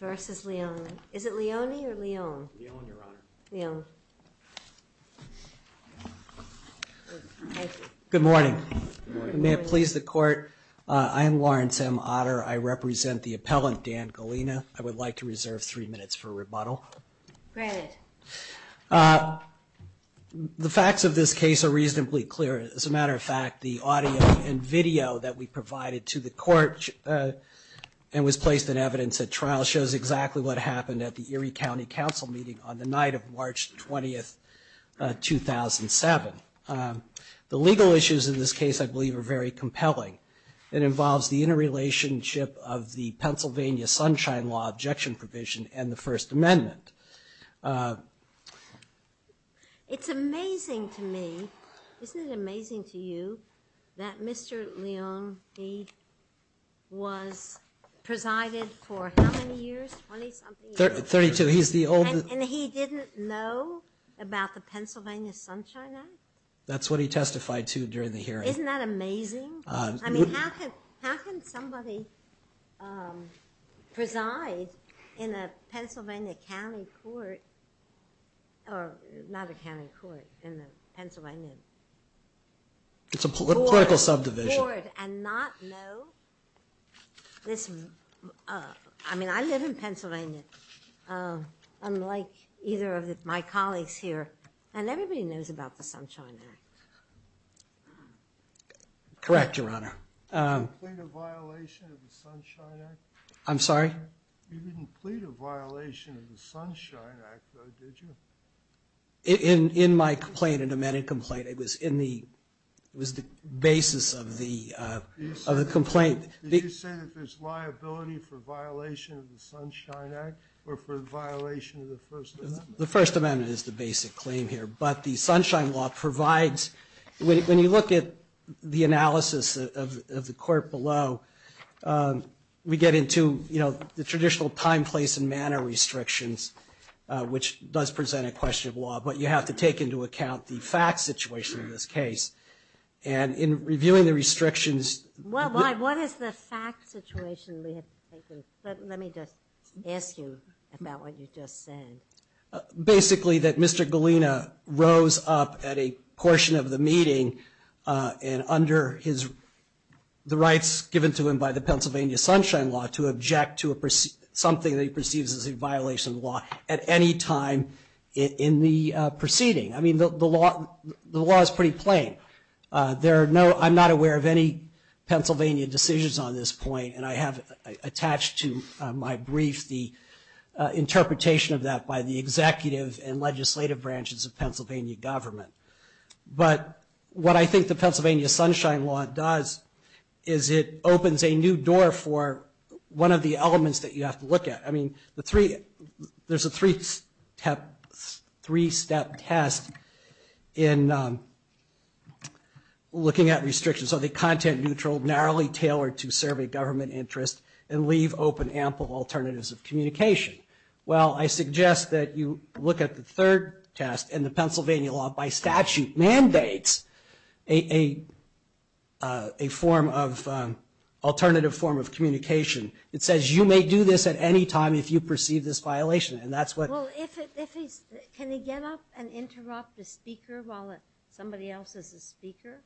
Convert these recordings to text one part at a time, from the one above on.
versus Leoneetal. Is it Leoneetal or Leoneetal? Leoneetal, Your Honor. Leoneetal. Thank you. Good morning. Good morning. May it please the Court, I am Lawrence M. Otter. I represent the appellant, Dan Galena. I would like to reserve three minutes for rebuttal. The facts of this case are reasonably clear. As a matter of fact, the audio and video that we provided to the Court and was placed in evidence at trial shows exactly what happened at the Erie County Council meeting on the night of March 20, 2007. The legal issues in this case I Sunshine Law Objection Provision and the First Amendment. It's amazing to me, isn't it amazing to you, that Mr. Leone was presided for how many years, 20 something years? 32, he's the oldest. And he didn't know about the Pennsylvania Sunshine Act? That's what he testified to during the hearing. Isn't that amazing? I mean, how can somebody preside in a Pennsylvania county court, or not a county court, in a Pennsylvania court? It's a political subdivision. And not know this, I mean I live in Pennsylvania, unlike either of my colleagues here, and everybody knows about the Sunshine Act. Correct, Your Honor. Did you plead a violation of the Sunshine Act? I'm sorry? You didn't plead a violation of the Sunshine Act, did you? In my complaint, an amended complaint, it was in the basis of the complaint. Did you say that there's liability for violation of the Sunshine Act, or for violation of the First Amendment? The First Amendment is the basic claim here, but the Sunshine Law provides, when you look at the analysis of the court below, we get into the traditional time, place, and manner restrictions, which does present a question of law, but you have to take into account the fact situation of this case. And in reviewing the restrictions... What is the fact situation? Let me just ask you about what you just said. Basically, that Mr. Galena rose up at a portion of the meeting, and under the rights given to him by the Pennsylvania Sunshine Law, to object to something that he perceives as a violation of the law at any time in the proceeding. I mean, the law is pretty plain. I'm not aware of any Pennsylvania decisions on this point, and I have attached to my brief the interpretation of that by the executive and legislative branches of Pennsylvania government. But what I think the Pennsylvania Sunshine Law does is it opens a new door for one of the elements that you have to look at. I mean, there's a three-step test in looking at restrictions. Are they content-neutral, narrowly tailored to serve a government interest, and leave open ample alternatives of communication? Well, I suggest that you look at the third test, and the Pennsylvania law, by statute, mandates a form of alternative form of communication. It says you may do this at any time if you perceive this violation, and that's what... Well, if he's... Can he get up and interrupt the speaker while somebody else is a speaker?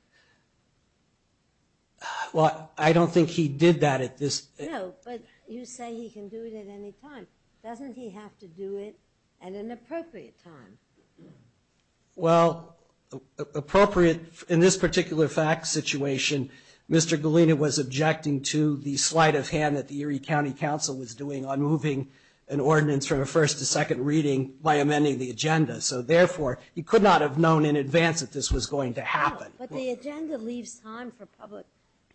Well, I don't think he did that at this... No, but you say he can do it at any time. Doesn't he have to do it at an appropriate time? Well, appropriate... In this particular fact situation, Mr. Galena was objecting to the sleight of hand that the Erie County Council was doing on moving an ordinance from a first to second reading by amending the agenda. So therefore, he could not have known in advance that this was going to happen. But the agenda leaves time for public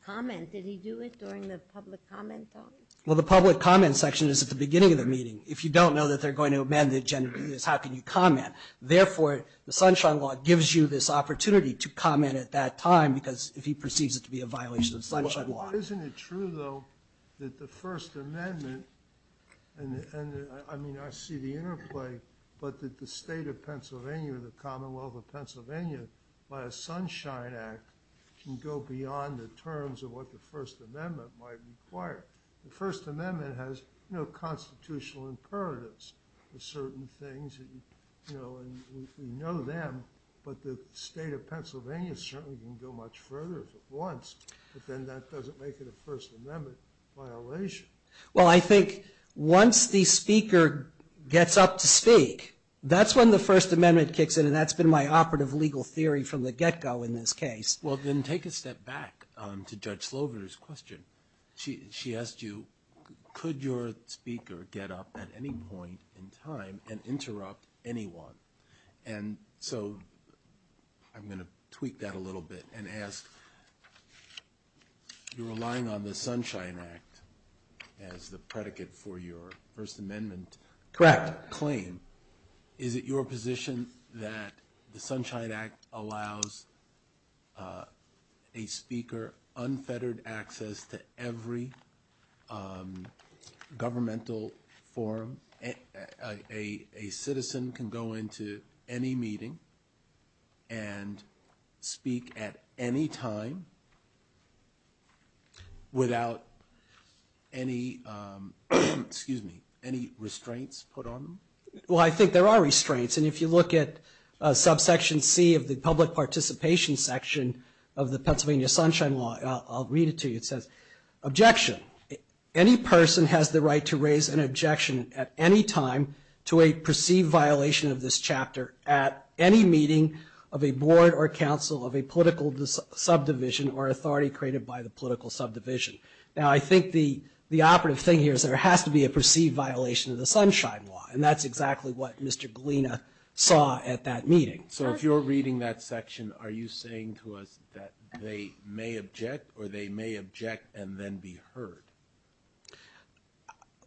comment. Did he do it during the public comment time? Well, the public comment section is at the beginning of the meeting. If you don't know that they're going to amend the agenda, how can you comment? Therefore, the Sunshine Law gives you this opportunity to comment at that time, because if he perceives it to be a violation of the Sunshine Law... Isn't it true, though, that the First Amendment... I mean, I see the interplay, but that the state of Pennsylvania or the Commonwealth of Pennsylvania, by a Sunshine Act, can go beyond the terms of what the First Amendment might require? The First Amendment has constitutional imperatives for certain things, and we know them, but the state of Pennsylvania certainly can go much further if it wants, but then that doesn't make it a First Amendment violation. Well, I think once the speaker gets up to speak, that's when the First Amendment kicks in, and that's been my operative legal theory from the get-go in this case. Well, then take a step back to Judge Slover's question. She asked you, could your speaker get up at any point in time and interrupt anyone? And so I'm going to tweak that a little bit and ask, you're relying on the Sunshine Act as the predicate for your First Amendment claim. Is it your position that the Sunshine Act allows a speaker unfettered access to every governmental forum? A citizen can go into any meeting and speak at any time without any restraints put on them? Well, I think there are restraints, and if you look at subsection C of the public participation section of the Pennsylvania Sunshine Law, I'll read it to you, it says, Any person has the right to raise an objection at any time to a perceived violation of this chapter at any meeting of a board or council of a political subdivision or authority created by the political subdivision. Now, I think the operative thing here is there has to be a perceived violation of the Sunshine Law, and that's exactly what Mr. Galina saw at that meeting. So if you're reading that section, are you saying to us that they may object or they may object and then be heard?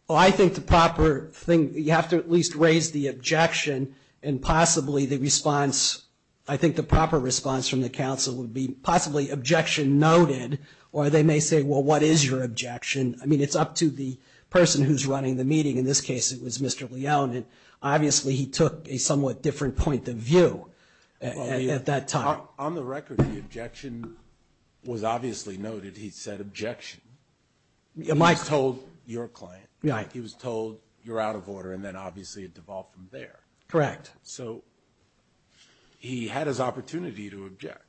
Well, I think the proper thing, you have to at least raise the objection and possibly the response, I think the proper response from the council would be possibly objection noted, or they may say, well, what is your objection? I mean, it's up to the person who's running the meeting. In this case, it was Mr. Leone, and obviously he took a somewhat different point of view at that time. On the record, the objection was obviously noted. He said objection. He was told you're out of order, and then obviously it devolved from there. Correct. So he had his opportunity to object.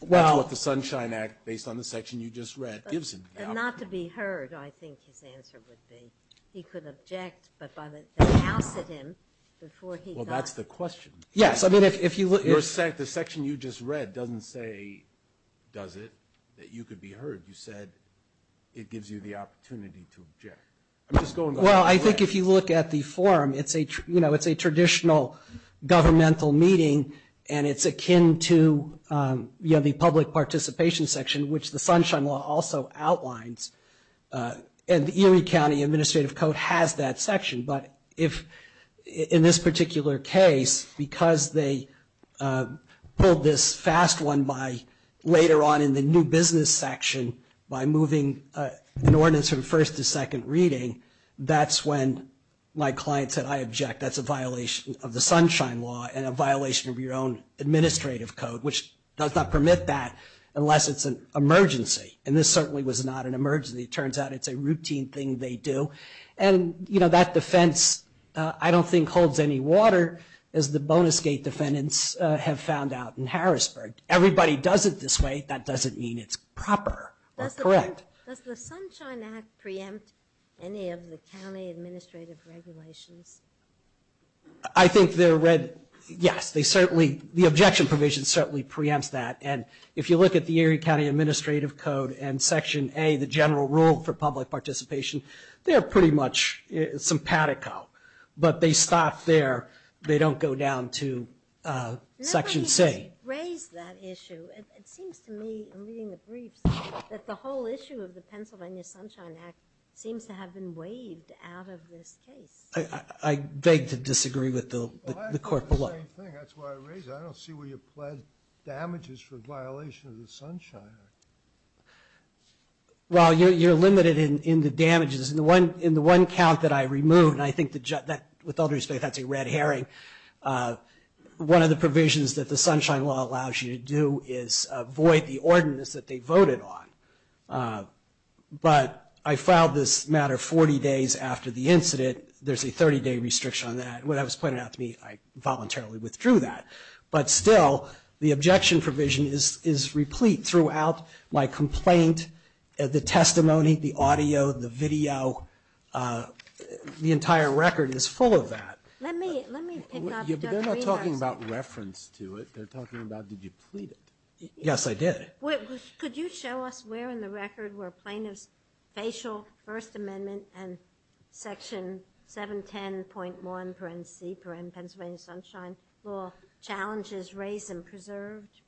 That's what the Sunshine Act, based on the section you just read, gives him. And not to be heard, I think his answer would be. He could object, but by the house of him, before he got. Well, that's the question. Yes, I mean, if you look. The section you just read doesn't say, does it, that you could be heard. You said it gives you the opportunity to object. Well, I think if you look at the form, it's a traditional governmental meeting, and it's akin to the public participation section, which the Sunshine Law also outlines. And the Erie County Administrative Code has that section. But in this particular case, because they pulled this fast one later on in the new business section, by moving an ordinance from first to second reading, that's when my client said, I object. That's a violation of the Sunshine Law and a violation of your own administrative code, which does not permit that unless it's an emergency. And this certainly was not an emergency. It turns out it's a routine thing they do. And, you know, that defense I don't think holds any water, as the Bonus Gate defendants have found out in Harrisburg. Everybody does it this way. That doesn't mean it's proper or correct. Does the Sunshine Act preempt any of the county administrative regulations? I think they're read, yes. They certainly, the objection provision certainly preempts that. And if you look at the Erie County Administrative Code and Section A, the general rule for public participation, they're pretty much simpatico. But they stop there. They don't go down to Section C. I never even raised that issue. It seems to me in reading the briefs that the whole issue of the Pennsylvania Sunshine Act seems to have been waived out of this case. I beg to disagree with the court below. Well, I have to do the same thing. That's why I raised it. I don't see where you pled damages for violation of the Sunshine Act. Well, you're limited in the damages. In the one count that I removed, and I think with all due respect that's a red herring, one of the provisions that the Sunshine Law allows you to do is void the ordinance that they voted on. But I filed this matter 40 days after the incident. There's a 30-day restriction on that. When it was pointed out to me, I voluntarily withdrew that. But still, the objection provision is replete throughout my complaint. The testimony, the audio, the video, the entire record is full of that. Let me pick up Dr. Rivas. They're not talking about reference to it. They're talking about did you plead it. Yes, I did. Could you show us where in the record were plaintiff's facial, First Amendment, and Section 710.1, parentheses, Pennsylvania Sunshine Law challenges raised and preserved?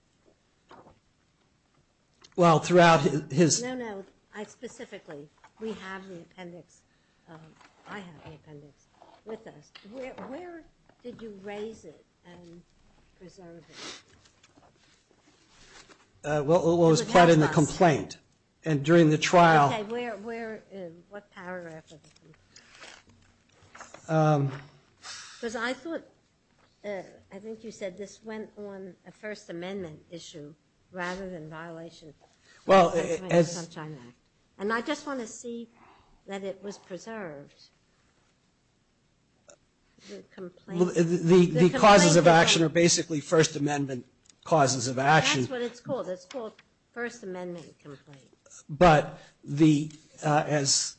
Well, throughout his ‑‑ No, no, specifically. We have the appendix. I have the appendix with us. Where did you raise it and preserve it? Well, it was part of the complaint and during the trial. Okay, where, what paragraph? Because I thought, I think you said this went on a First Amendment issue rather than violation of the Pennsylvania Sunshine Act. And I just want to see that it was preserved. The complaint. The causes of action are basically First Amendment causes of action. That's what it's called. It's called First Amendment complaints. But the, as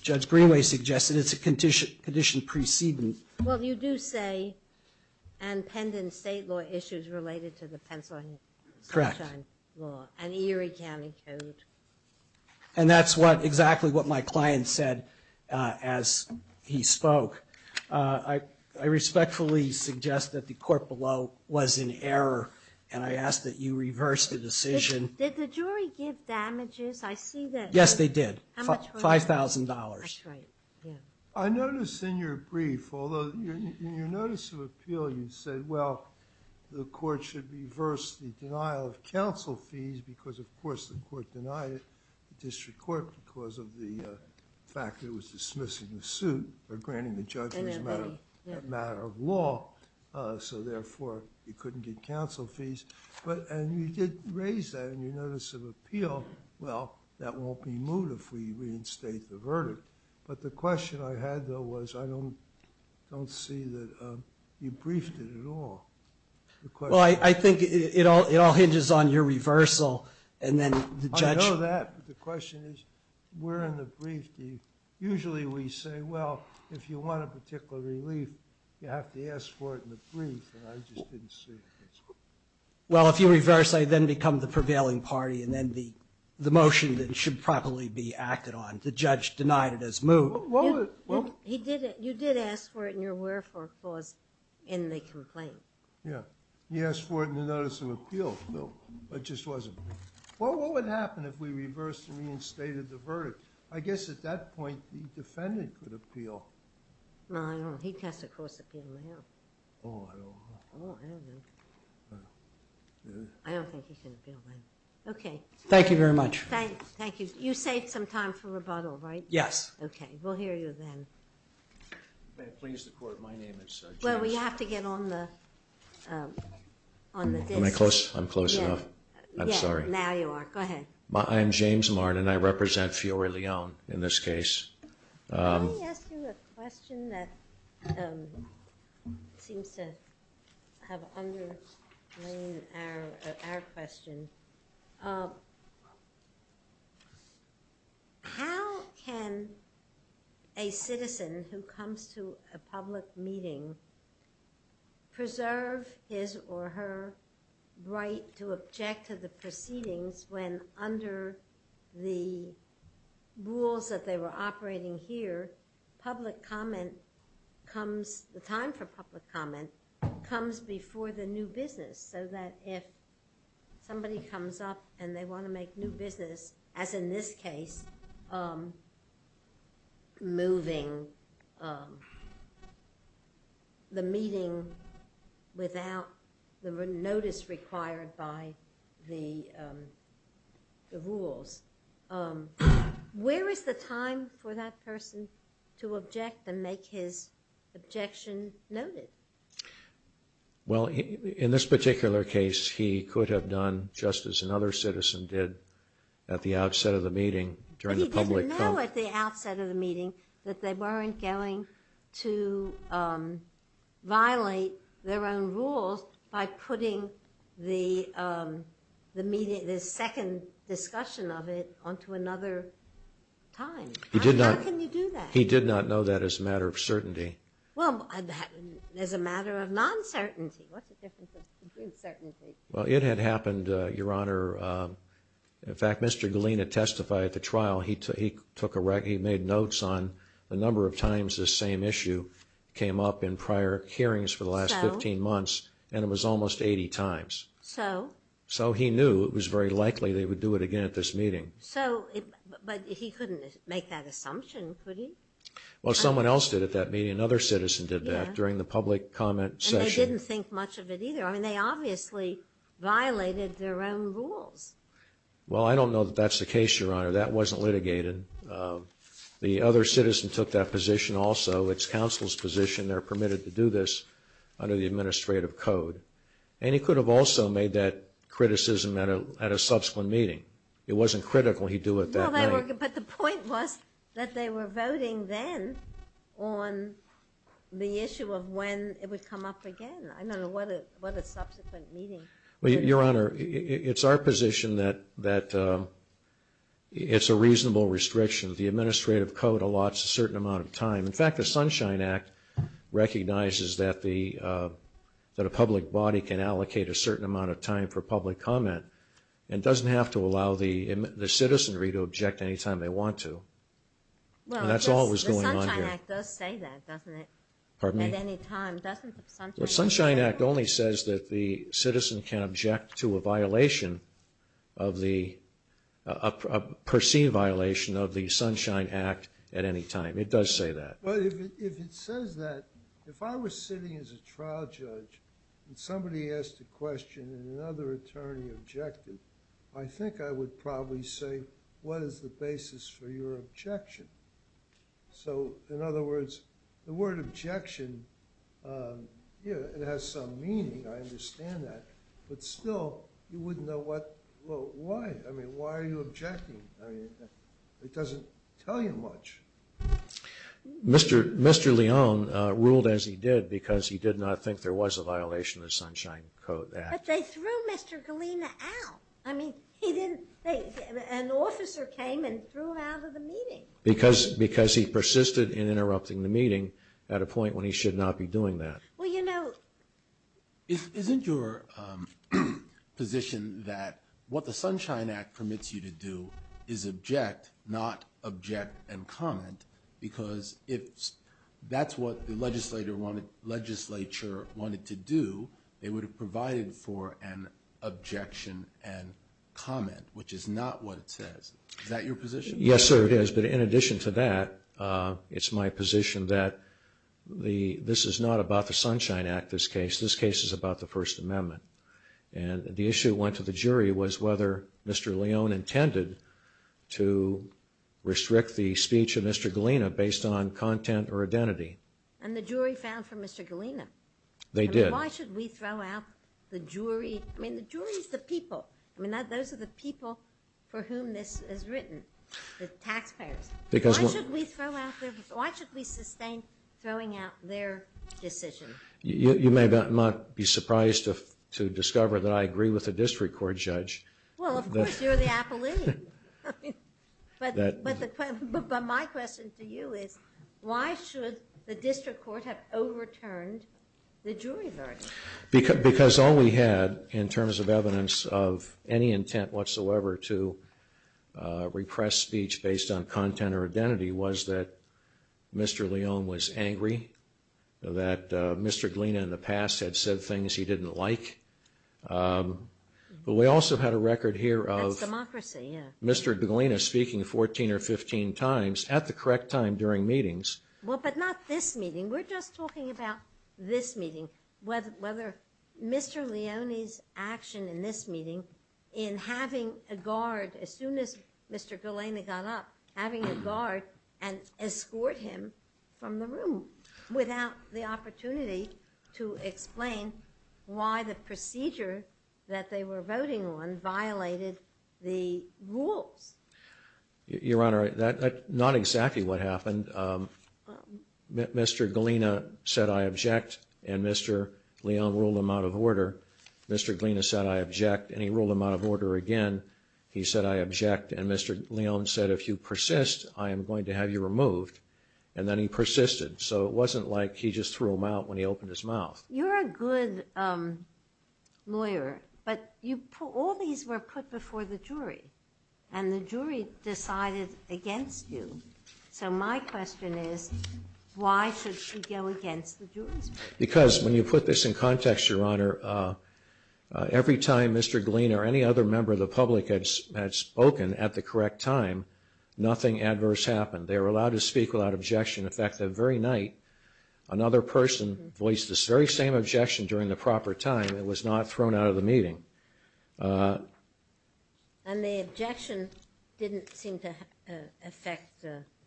Judge Greenway suggested, it's a condition precedent. Well, you do say, and pend in state law issues related to the Pennsylvania Sunshine Law. Correct. And Erie County Code. And that's what, exactly what my client said as he spoke. I respectfully suggest that the court below was in error and I ask that you reverse the decision. Did the jury give damages? I see that. Yes, they did. How much was it? $5,000. That's right, yeah. I notice in your brief, although in your notice of appeal you said, well, the court should reverse the denial of counsel fees because, of course, the court denied it, the district court, because of the fact it was dismissing the suit, but granting the judge was a matter of law. So, therefore, you couldn't get counsel fees. And you did raise that in your notice of appeal. But the question I had, though, was I don't see that you briefed it at all. Well, I think it all hinges on your reversal and then the judge. I know that, but the question is, where in the brief do you, usually we say, well, if you want a particular relief, you have to ask for it in the brief, and I just didn't see it. Well, if you reverse, I then become the prevailing party and then the motion then should properly be acted on. The judge denied it as moved. You did ask for it in your wherefore clause in the complaint. Yeah. He asked for it in the notice of appeal. No, it just wasn't. Well, what would happen if we reversed and reinstated the verdict? I guess at that point the defendant could appeal. No, I don't know. He'd have to, of course, appeal now. Oh, I don't know. Oh, I don't know. I don't think he can appeal now. Okay. Thank you very much. Thank you. You saved some time for rebuttal, right? Yes. Okay. We'll hear you then. May it please the Court, my name is James. Well, we have to get on the disk. Am I close? I'm close enough. Yeah. I'm sorry. Now you are. Go ahead. I am James Martin, and I represent Fiore Leone in this case. Let me ask you a question that seems to have underlain our question. How can a citizen who comes to a public meeting preserve his or her right to The time for public comment comes before the new business, so that if somebody comes up and they want to make new business, as in this case, moving the meeting without the notice required by the rules. Where is the time for that person to object and make his objection noted? Well, in this particular case, he could have done just as another citizen did at the outset of the meeting during the public comment. But he didn't know at the outset of the meeting that they weren't going to How can you do that? He did not know that as a matter of certainty. Well, as a matter of non-certainty. What's the difference between certainty? Well, it had happened, Your Honor. In fact, Mr. Galina testified at the trial. He made notes on the number of times this same issue came up in prior hearings for the last 15 months, and it was almost 80 times. So? So he knew it was very likely they would do it again at this meeting. So, but he couldn't make that assumption, could he? Well, someone else did at that meeting. Another citizen did that during the public comment session. And they didn't think much of it either. I mean, they obviously violated their own rules. Well, I don't know that that's the case, Your Honor. That wasn't litigated. The other citizen took that position also. It's counsel's position. They're permitted to do this under the administrative code. And he could have also made that criticism at a subsequent meeting. It wasn't critical he'd do it that night. But the point was that they were voting then on the issue of when it would come up again. I don't know what a subsequent meeting. Well, Your Honor, it's our position that it's a reasonable restriction. The administrative code allots a certain amount of time. In fact, the Sunshine Act recognizes that a public body can allocate a certain amount of time for public comment and doesn't have to allow the citizenry to object any time they want to. And that's all that was going on here. Well, the Sunshine Act does say that, doesn't it? Pardon me? At any time, doesn't the Sunshine Act say that? The Sunshine Act only says that the citizen can object to a violation of the a perceived violation of the Sunshine Act at any time. It does say that. But if it says that, if I was sitting as a trial judge and somebody asked a question and another attorney objected, I think I would probably say, what is the basis for your objection? So, in other words, the word objection, it has some meaning. I understand that. But still, you wouldn't know why. I mean, why are you objecting? It doesn't tell you much. Mr. Leone ruled as he did because he did not think there was a violation of the Sunshine Act. But they threw Mr. Galena out. I mean, he didn't. An officer came and threw him out of the meeting. Because he persisted in interrupting the meeting at a point when he should not be doing that. Isn't your position that what the Sunshine Act permits you to do is object, not object and comment? Because if that's what the legislature wanted to do, they would have provided for an objection and comment, which is not what it says. Is that your position? Yes, sir, it is. But in addition to that, it's my position that this is not about the Sunshine Act, this case. This case is about the First Amendment. And the issue went to the jury was whether Mr. Leone intended to restrict the speech of Mr. Galena based on content or identity. And the jury found for Mr. Galena. They did. Why should we throw out the jury? I mean, the jury is the people. I mean, those are the people for whom this is written, the taxpayers. Why should we sustain throwing out their decision? You may not be surprised to discover that I agree with the district court judge. Well, of course, you're the appellee. But my question to you is, why should the district court have overturned the jury verdict? Because all we had in terms of evidence of any intent whatsoever to repress speech based on content or identity was that Mr. Leone was angry, that Mr. Galena in the past had said things he didn't like. But we also had a record here of Mr. Galena speaking 14 or 15 times at the correct time during meetings. Well, but not this meeting. We're just talking about this meeting, whether Mr. Leone's action in this meeting in having a guard, as soon as Mr. Galena got up, having a guard and escort him from the room without the opportunity to explain why the procedure that they were voting on violated the rules. Your Honor, that's not exactly what happened. Mr. Galena said, I object. And Mr. Leone ruled him out of order. Mr. Galena said, I object. And he ruled him out of order again. He said, I object. And Mr. Leone said, if you persist, I am going to have you removed. And then he persisted. So it wasn't like he just threw him out when he opened his mouth. You're a good lawyer. But all these were put before the jury. And the jury decided against you. So my question is, why should she go against the jury's ruling? Because when you put this in context, Your Honor, every time Mr. Galena or any other member of the public had spoken at the correct time, nothing adverse happened. They were allowed to speak without objection. In fact, that very night, another person voiced this very same objection during the proper time and was not thrown out of the meeting. And the objection didn't seem to affect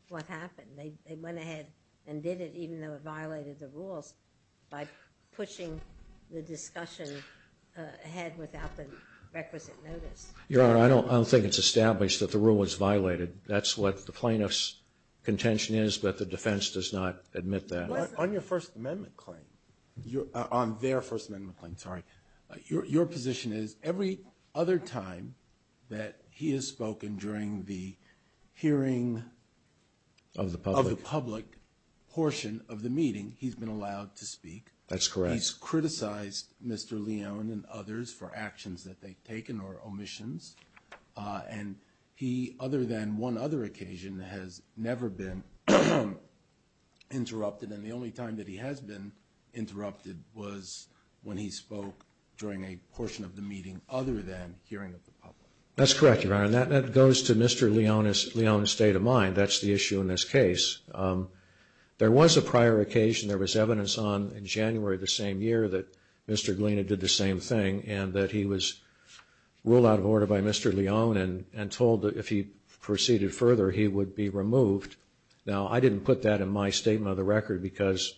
what happened. They went ahead and did it, even though it violated the rules, by pushing the discussion ahead without the requisite notice. Your Honor, I don't think it's established that the rule was violated. That's what the plaintiff's contention is, but the defense does not admit that. On your First Amendment claim, on their First Amendment claim, sorry, your position is every other time that he has spoken during the hearing of the public portion of the meeting, he's been allowed to speak. That's correct. He's criticized Mr. Leone and others for actions that they've taken or omissions. And he, other than one other occasion, has never been interrupted. And then the only time that he has been interrupted was when he spoke during a portion of the meeting other than hearing of the public. That's correct, Your Honor. And that goes to Mr. Leone's state of mind. That's the issue in this case. There was a prior occasion, there was evidence on in January of the same year, that Mr. Gliena did the same thing and that he was ruled out of order by Mr. Leone and told that if he proceeded further, he would be removed. Now, I didn't put that in my statement of the record because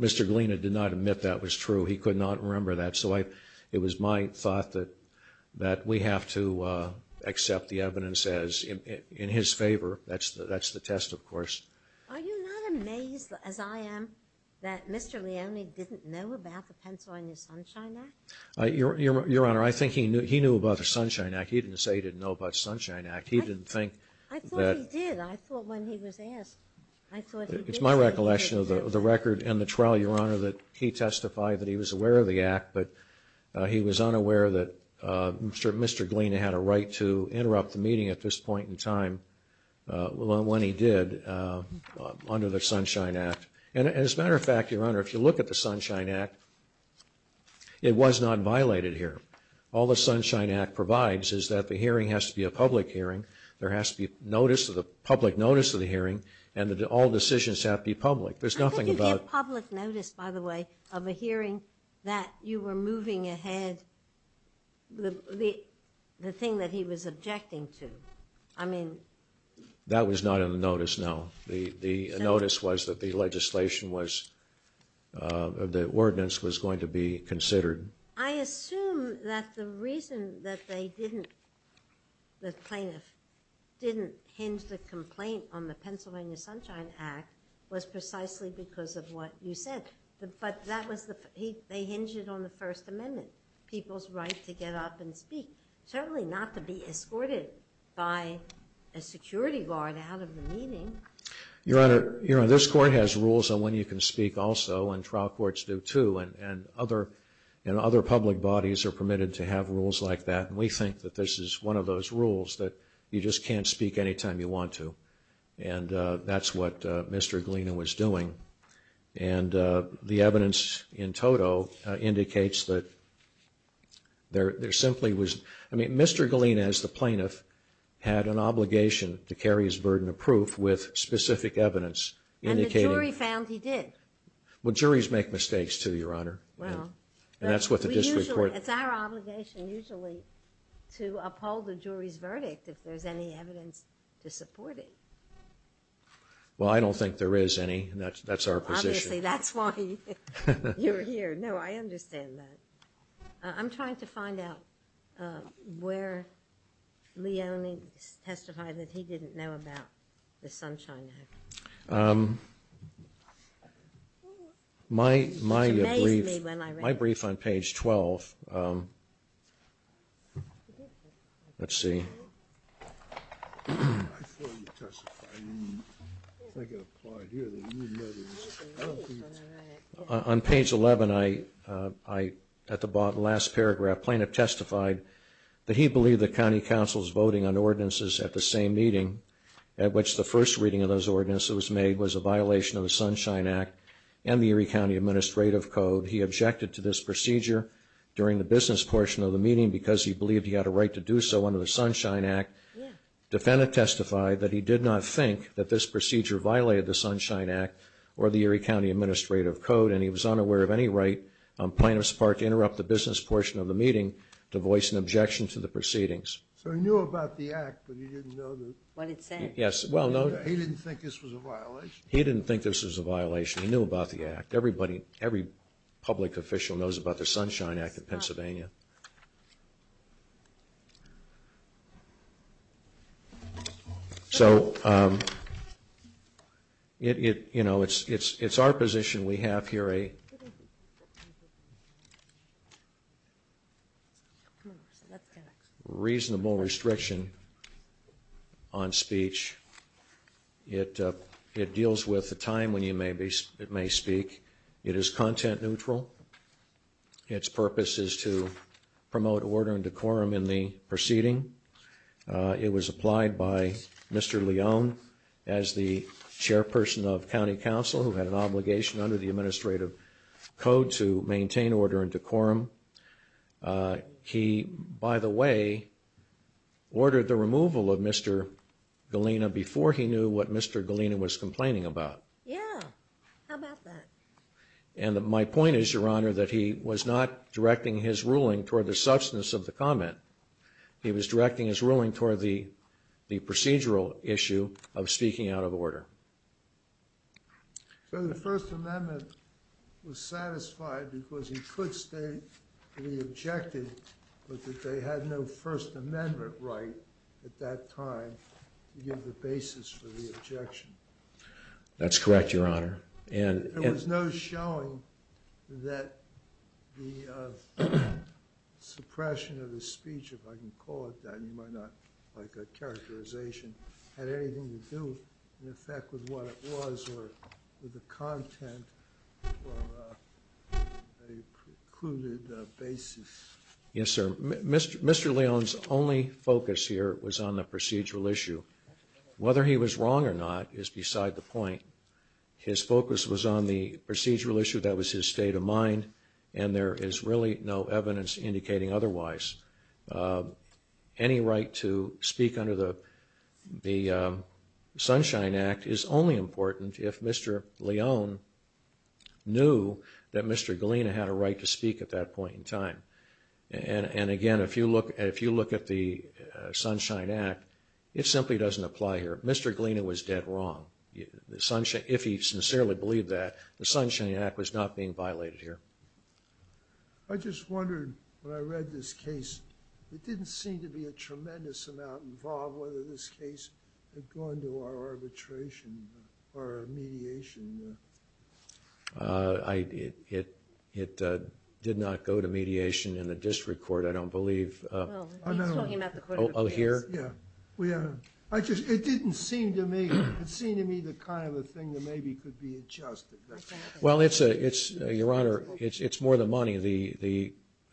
Mr. Gliena did not admit that was true. He could not remember that. So it was my thought that we have to accept the evidence in his favor. That's the test, of course. Are you not amazed, as I am, that Mr. Leone didn't know about the Pencil on Your Sunshine Act? Your Honor, I think he knew about the Sunshine Act. He didn't say he didn't know about the Sunshine Act. He didn't think that. I thought he did. I thought when he was asked, I thought he did. It's my recollection of the record and the trial, Your Honor, that he testified that he was aware of the act, but he was unaware that Mr. Gliena had a right to interrupt the meeting at this point in time when he did under the Sunshine Act. And as a matter of fact, Your Honor, if you look at the Sunshine Act, it was not violated here. All the Sunshine Act provides is that the hearing has to be a public hearing, there has to be notice of the public notice of the hearing, and that all decisions have to be public. I think you get public notice, by the way, of a hearing that you were moving ahead the thing that he was objecting to. I mean... That was not in the notice, no. The notice was that the legislation was, the ordinance was going to be considered. I assume that the reason that they didn't, the plaintiff, didn't hinge the complaint on the Pennsylvania Sunshine Act was precisely because of what you said. But that was the, they hinged it on the First Amendment, people's right to get up and speak, certainly not to be escorted by a security guard out of the meeting. Your Honor, this Court has rules on when you can speak also, and trial courts do too, and other public bodies are permitted to have rules like that. And we think that this is one of those rules that you just can't speak anytime you want to. And that's what Mr. Galena was doing. And the evidence in toto indicates that there simply was, I mean, Mr. Galena, as the plaintiff, had an obligation to carry his burden of proof with specific evidence. And the jury found he did. Well, juries make mistakes too, Your Honor. Well. And that's what the district court. It's our obligation usually to uphold the jury's verdict if there's any evidence to support it. Well, I don't think there is any. That's our position. Obviously, that's why you're here. No, I understand that. I'm trying to find out where Leone testified that he didn't know about the Sunshine Act. My brief on page 12, let's see. On page 11, at the last paragraph, plaintiff testified that he believed the county council's voting on ordinances at the same meeting at which the first reading of those ordinances was made was a violation of the Sunshine Act and the Erie County Administrative Code. He objected to this procedure during the business portion of the meeting because he believed he had a right to do so under the Sunshine Act. Defendant testified that he did not think that this procedure violated the Sunshine Act or the Erie County Administrative Code, and he was unaware of any right on plaintiff's part to interrupt the business portion of the meeting to voice an objection to the proceedings. So he knew about the act, but he didn't know the... What it said. Yes, well, no... He didn't think this was a violation. He didn't think this was a violation. He knew about the act. Everybody, every public official knows about the Sunshine Act of Pennsylvania. So, you know, it's our position we have here a... reasonable restriction on speech. It deals with the time when you may speak. It is content neutral. Its purpose is to promote order and decorum in the proceeding. It was applied by Mr. Leone as the chairperson of County Council who had an obligation under the Administrative Code to maintain order and decorum. He, by the way, ordered the removal of Mr. Galena before he knew what Mr. Galena was complaining about. Yeah, how about that? And my point is, Your Honor, that he was not directing his ruling toward the substance of the comment. He was directing his ruling toward the procedural issue of speaking out of order. So the First Amendment was satisfied because he could stay re-objected, but that they had no First Amendment right at that time to give the basis for the objection. That's correct, Your Honor. There was no showing that the suppression of his speech, if I can call it that, you might not like that characterization, had anything to do, in effect, with what it was or with the content for a precluded basis. Yes, sir. Mr. Leone's only focus here was on the procedural issue. Whether he was wrong or not is beside the point. His focus was on the procedural issue. That was his state of mind, and there is really no evidence indicating otherwise. Any right to speak under the Sunshine Act is only important if Mr. Leone knew that Mr. Galena had a right to speak at that point in time. And again, if you look at the Sunshine Act, it simply doesn't apply here. Mr. Galena was dead wrong. If he sincerely believed that, the Sunshine Act was not being violated here. I just wondered, when I read this case, it didn't seem to be a tremendous amount involved whether this case had gone to our arbitration or mediation. It did not go to mediation in the district court, I don't believe. No, he was talking about the court of appeals. Oh, here? Yeah. It didn't seem to me the kind of a thing that maybe could be adjusted. Well, Your Honor, it's more the money.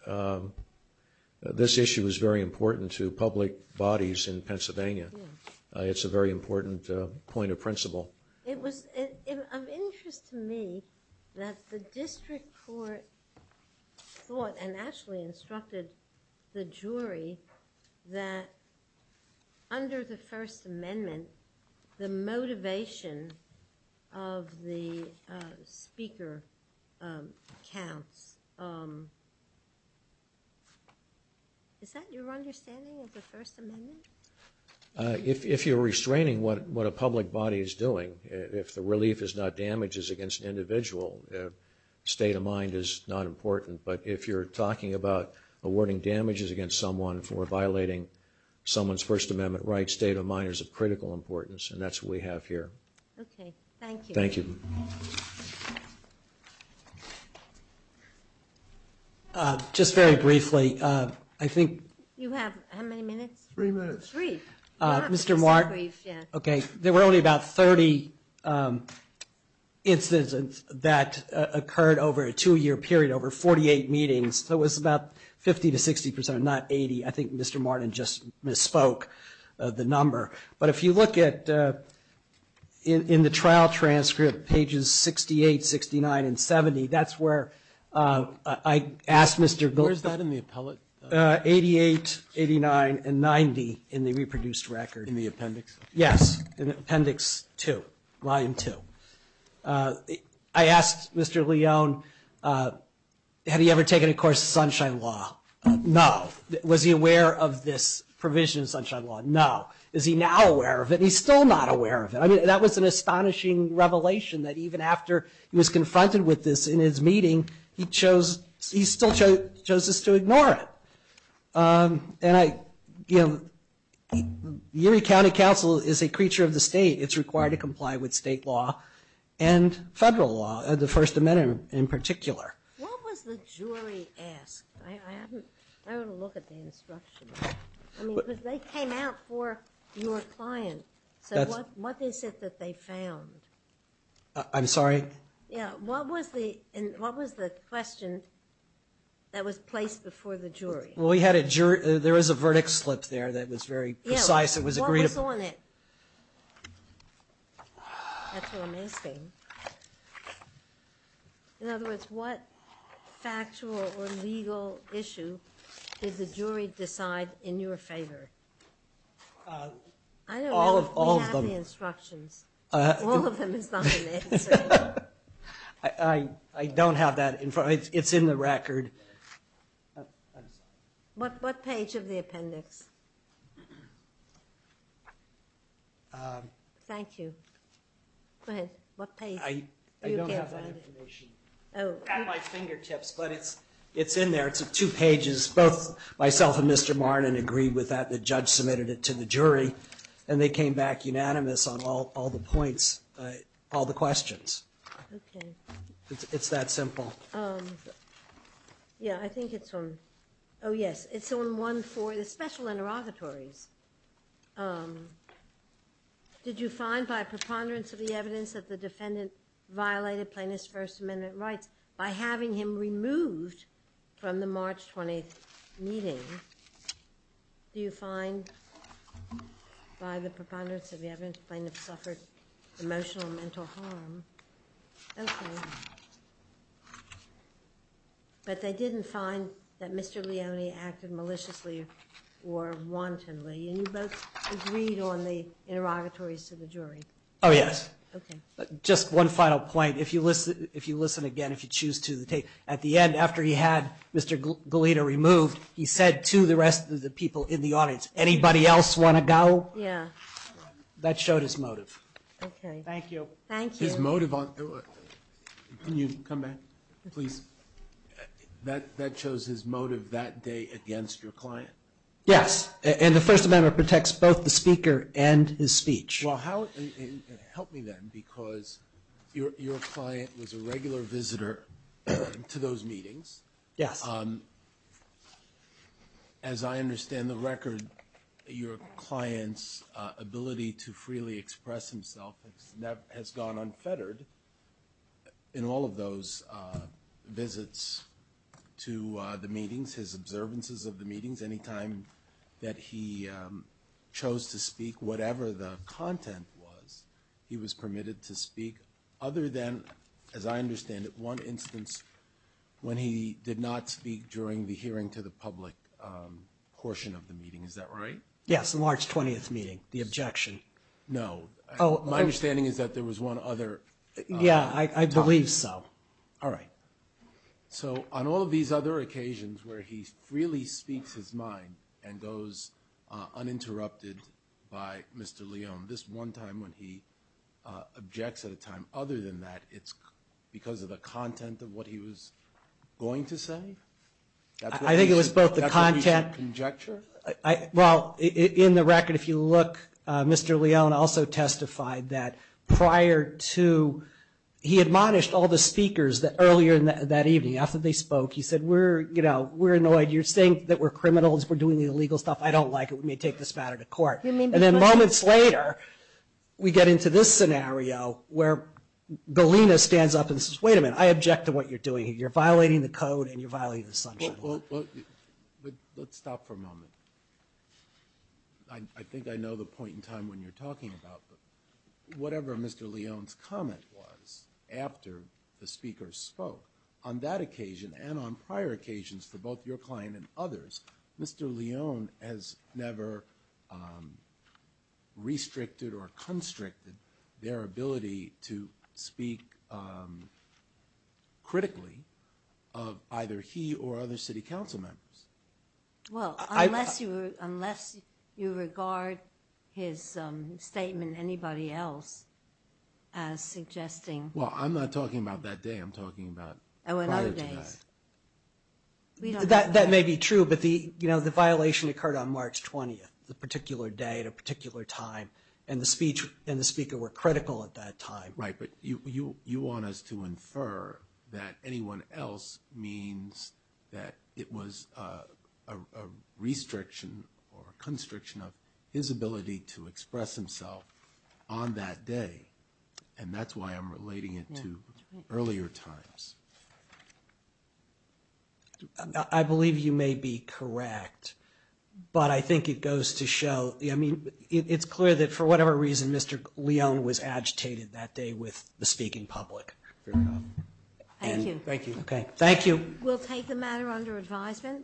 I mean, this issue is very important to public bodies in Pennsylvania. It's a very important point of principle. It was of interest to me that the district court thought and actually instructed the jury that under the First Amendment, the motivation of the speaker counts. Is that your understanding of the First Amendment? If you're restraining what a public body is doing, if the relief is not damages against an individual, state of mind is not important. But if you're talking about awarding damages against someone for violating someone's First Amendment rights, then the state of mind is of critical importance, and that's what we have here. Thank you. Thank you. Just very briefly, I think. You have how many minutes? Three minutes. Three. Mr. Martin. Okay. There were only about 30 incidents that occurred over a two-year period, over 48 meetings. So it was about 50 to 60 percent, not 80. I think Mr. Martin just misspoke the number. But if you look in the trial transcript, pages 68, 69, and 70, that's where I asked Mr. Goldstein. Where is that in the appellate? 88, 89, and 90 in the reproduced record. In the appendix? Yes, in Appendix 2, Volume 2. I asked Mr. Leone, had he ever taken a course in Sunshine Law? No. Was he aware of this provision in Sunshine Law? No. Is he now aware of it? He's still not aware of it. I mean, that was an astonishing revelation, that even after he was confronted with this in his meeting, he still chose us to ignore it. And, you know, Erie County Council is a creature of the state. It's required to comply with state law and federal law, the First Amendment in particular. What was the jury asked? I haven't looked at the instructions. I mean, because they came out for your client. So what is it that they found? I'm sorry? Yeah, what was the question that was placed before the jury? Well, we had a jury. There was a verdict slip there that was very precise. It was agreed upon. Yeah, what was on it? That's what I'm asking. In other words, what factual or legal issue did the jury decide in your favor? All of them. We have the instructions. All of them is not an answer. I don't have that in front of me. It's in the record. What page of the appendix? Thank you. Go ahead. I don't have that information at my fingertips, but it's in there. It's two pages. Both myself and Mr. Martin agreed with that. The judge submitted it to the jury, and they came back unanimous on all the points, all the questions. It's that simple. Yeah, I think it's on. Oh, yes. It's on 1-4, the special interrogatories. Did you find, by preponderance of the evidence, that the defendant violated plaintiff's First Amendment rights by having him removed from the March 20th meeting? Do you find, by the preponderance of the evidence, the plaintiff suffered emotional and mental harm? Okay. But they didn't find that Mr. Leone acted maliciously or wantonly, and you both agreed on the interrogatories to the jury. Oh, yes. Okay. Just one final point. If you listen again, if you choose to, at the end, after he had Mr. Goleta removed, he said to the rest of the people in the audience, anybody else want to go? Yeah. That showed his motive. Okay. Thank you. Thank you. Can you come back, please? That shows his motive that day against your client? Yes, and the First Amendment protects both the speaker and his speech. Well, help me then, because your client was a regular visitor to those meetings. Yes. As I understand the record, your client's ability to freely express himself has gone unfettered in all of those visits to the meetings, his observances of the meetings, any time that he chose to speak, whatever the content was, he was permitted to speak other than, as I understand it, one instance when he did not speak during the hearing to the public portion of the meeting. Is that right? Yes, the March 20th meeting, the objection. No. My understanding is that there was one other time. Yeah, I believe so. All right. So on all of these other occasions where he freely speaks his mind and goes uninterrupted by Mr. Leone, this one time when he objects at a time, other than that it's because of the content of what he was going to say? I think it was both the content. That's what we should conjecture? Well, in the record, if you look, Mr. Leone also testified that prior to he admonished all the speakers that earlier that evening after they spoke, he said, we're, you know, we're annoyed. You're saying that we're criminals. We're doing the illegal stuff. I don't like it. We may take this matter to court. And then moments later, we get into this scenario where Galena stands up and says, wait a minute. I object to what you're doing. You're violating the code and you're violating the assumption. Let's stop for a moment. I think I know the point in time when you're talking about whatever Mr. Leone's comment was after the speaker spoke on that occasion and on prior occasions for both your client and others. Mr. Leone has never restricted or constricted their ability to speak critically of either he or other city council members. Well, unless you, unless you regard his statement, anybody else as suggesting. Well, I'm not talking about that day. I'm talking about prior to that. That may be true, but the, you know, the violation occurred on March 20th, the particular day at a particular time and the speech and the speaker were critical at that time. Right. But you, you, you want us to infer that anyone else means that it was a restriction or constriction of his ability to express himself on that day. And that's why I'm relating it to earlier times. I believe you may be correct, but I think it goes to show, I mean, it's clear that for whatever reason, Mr. Leone was agitated that day with the speaking public. Thank you. Thank you. Okay. Thank you. We'll take the matter under advisement.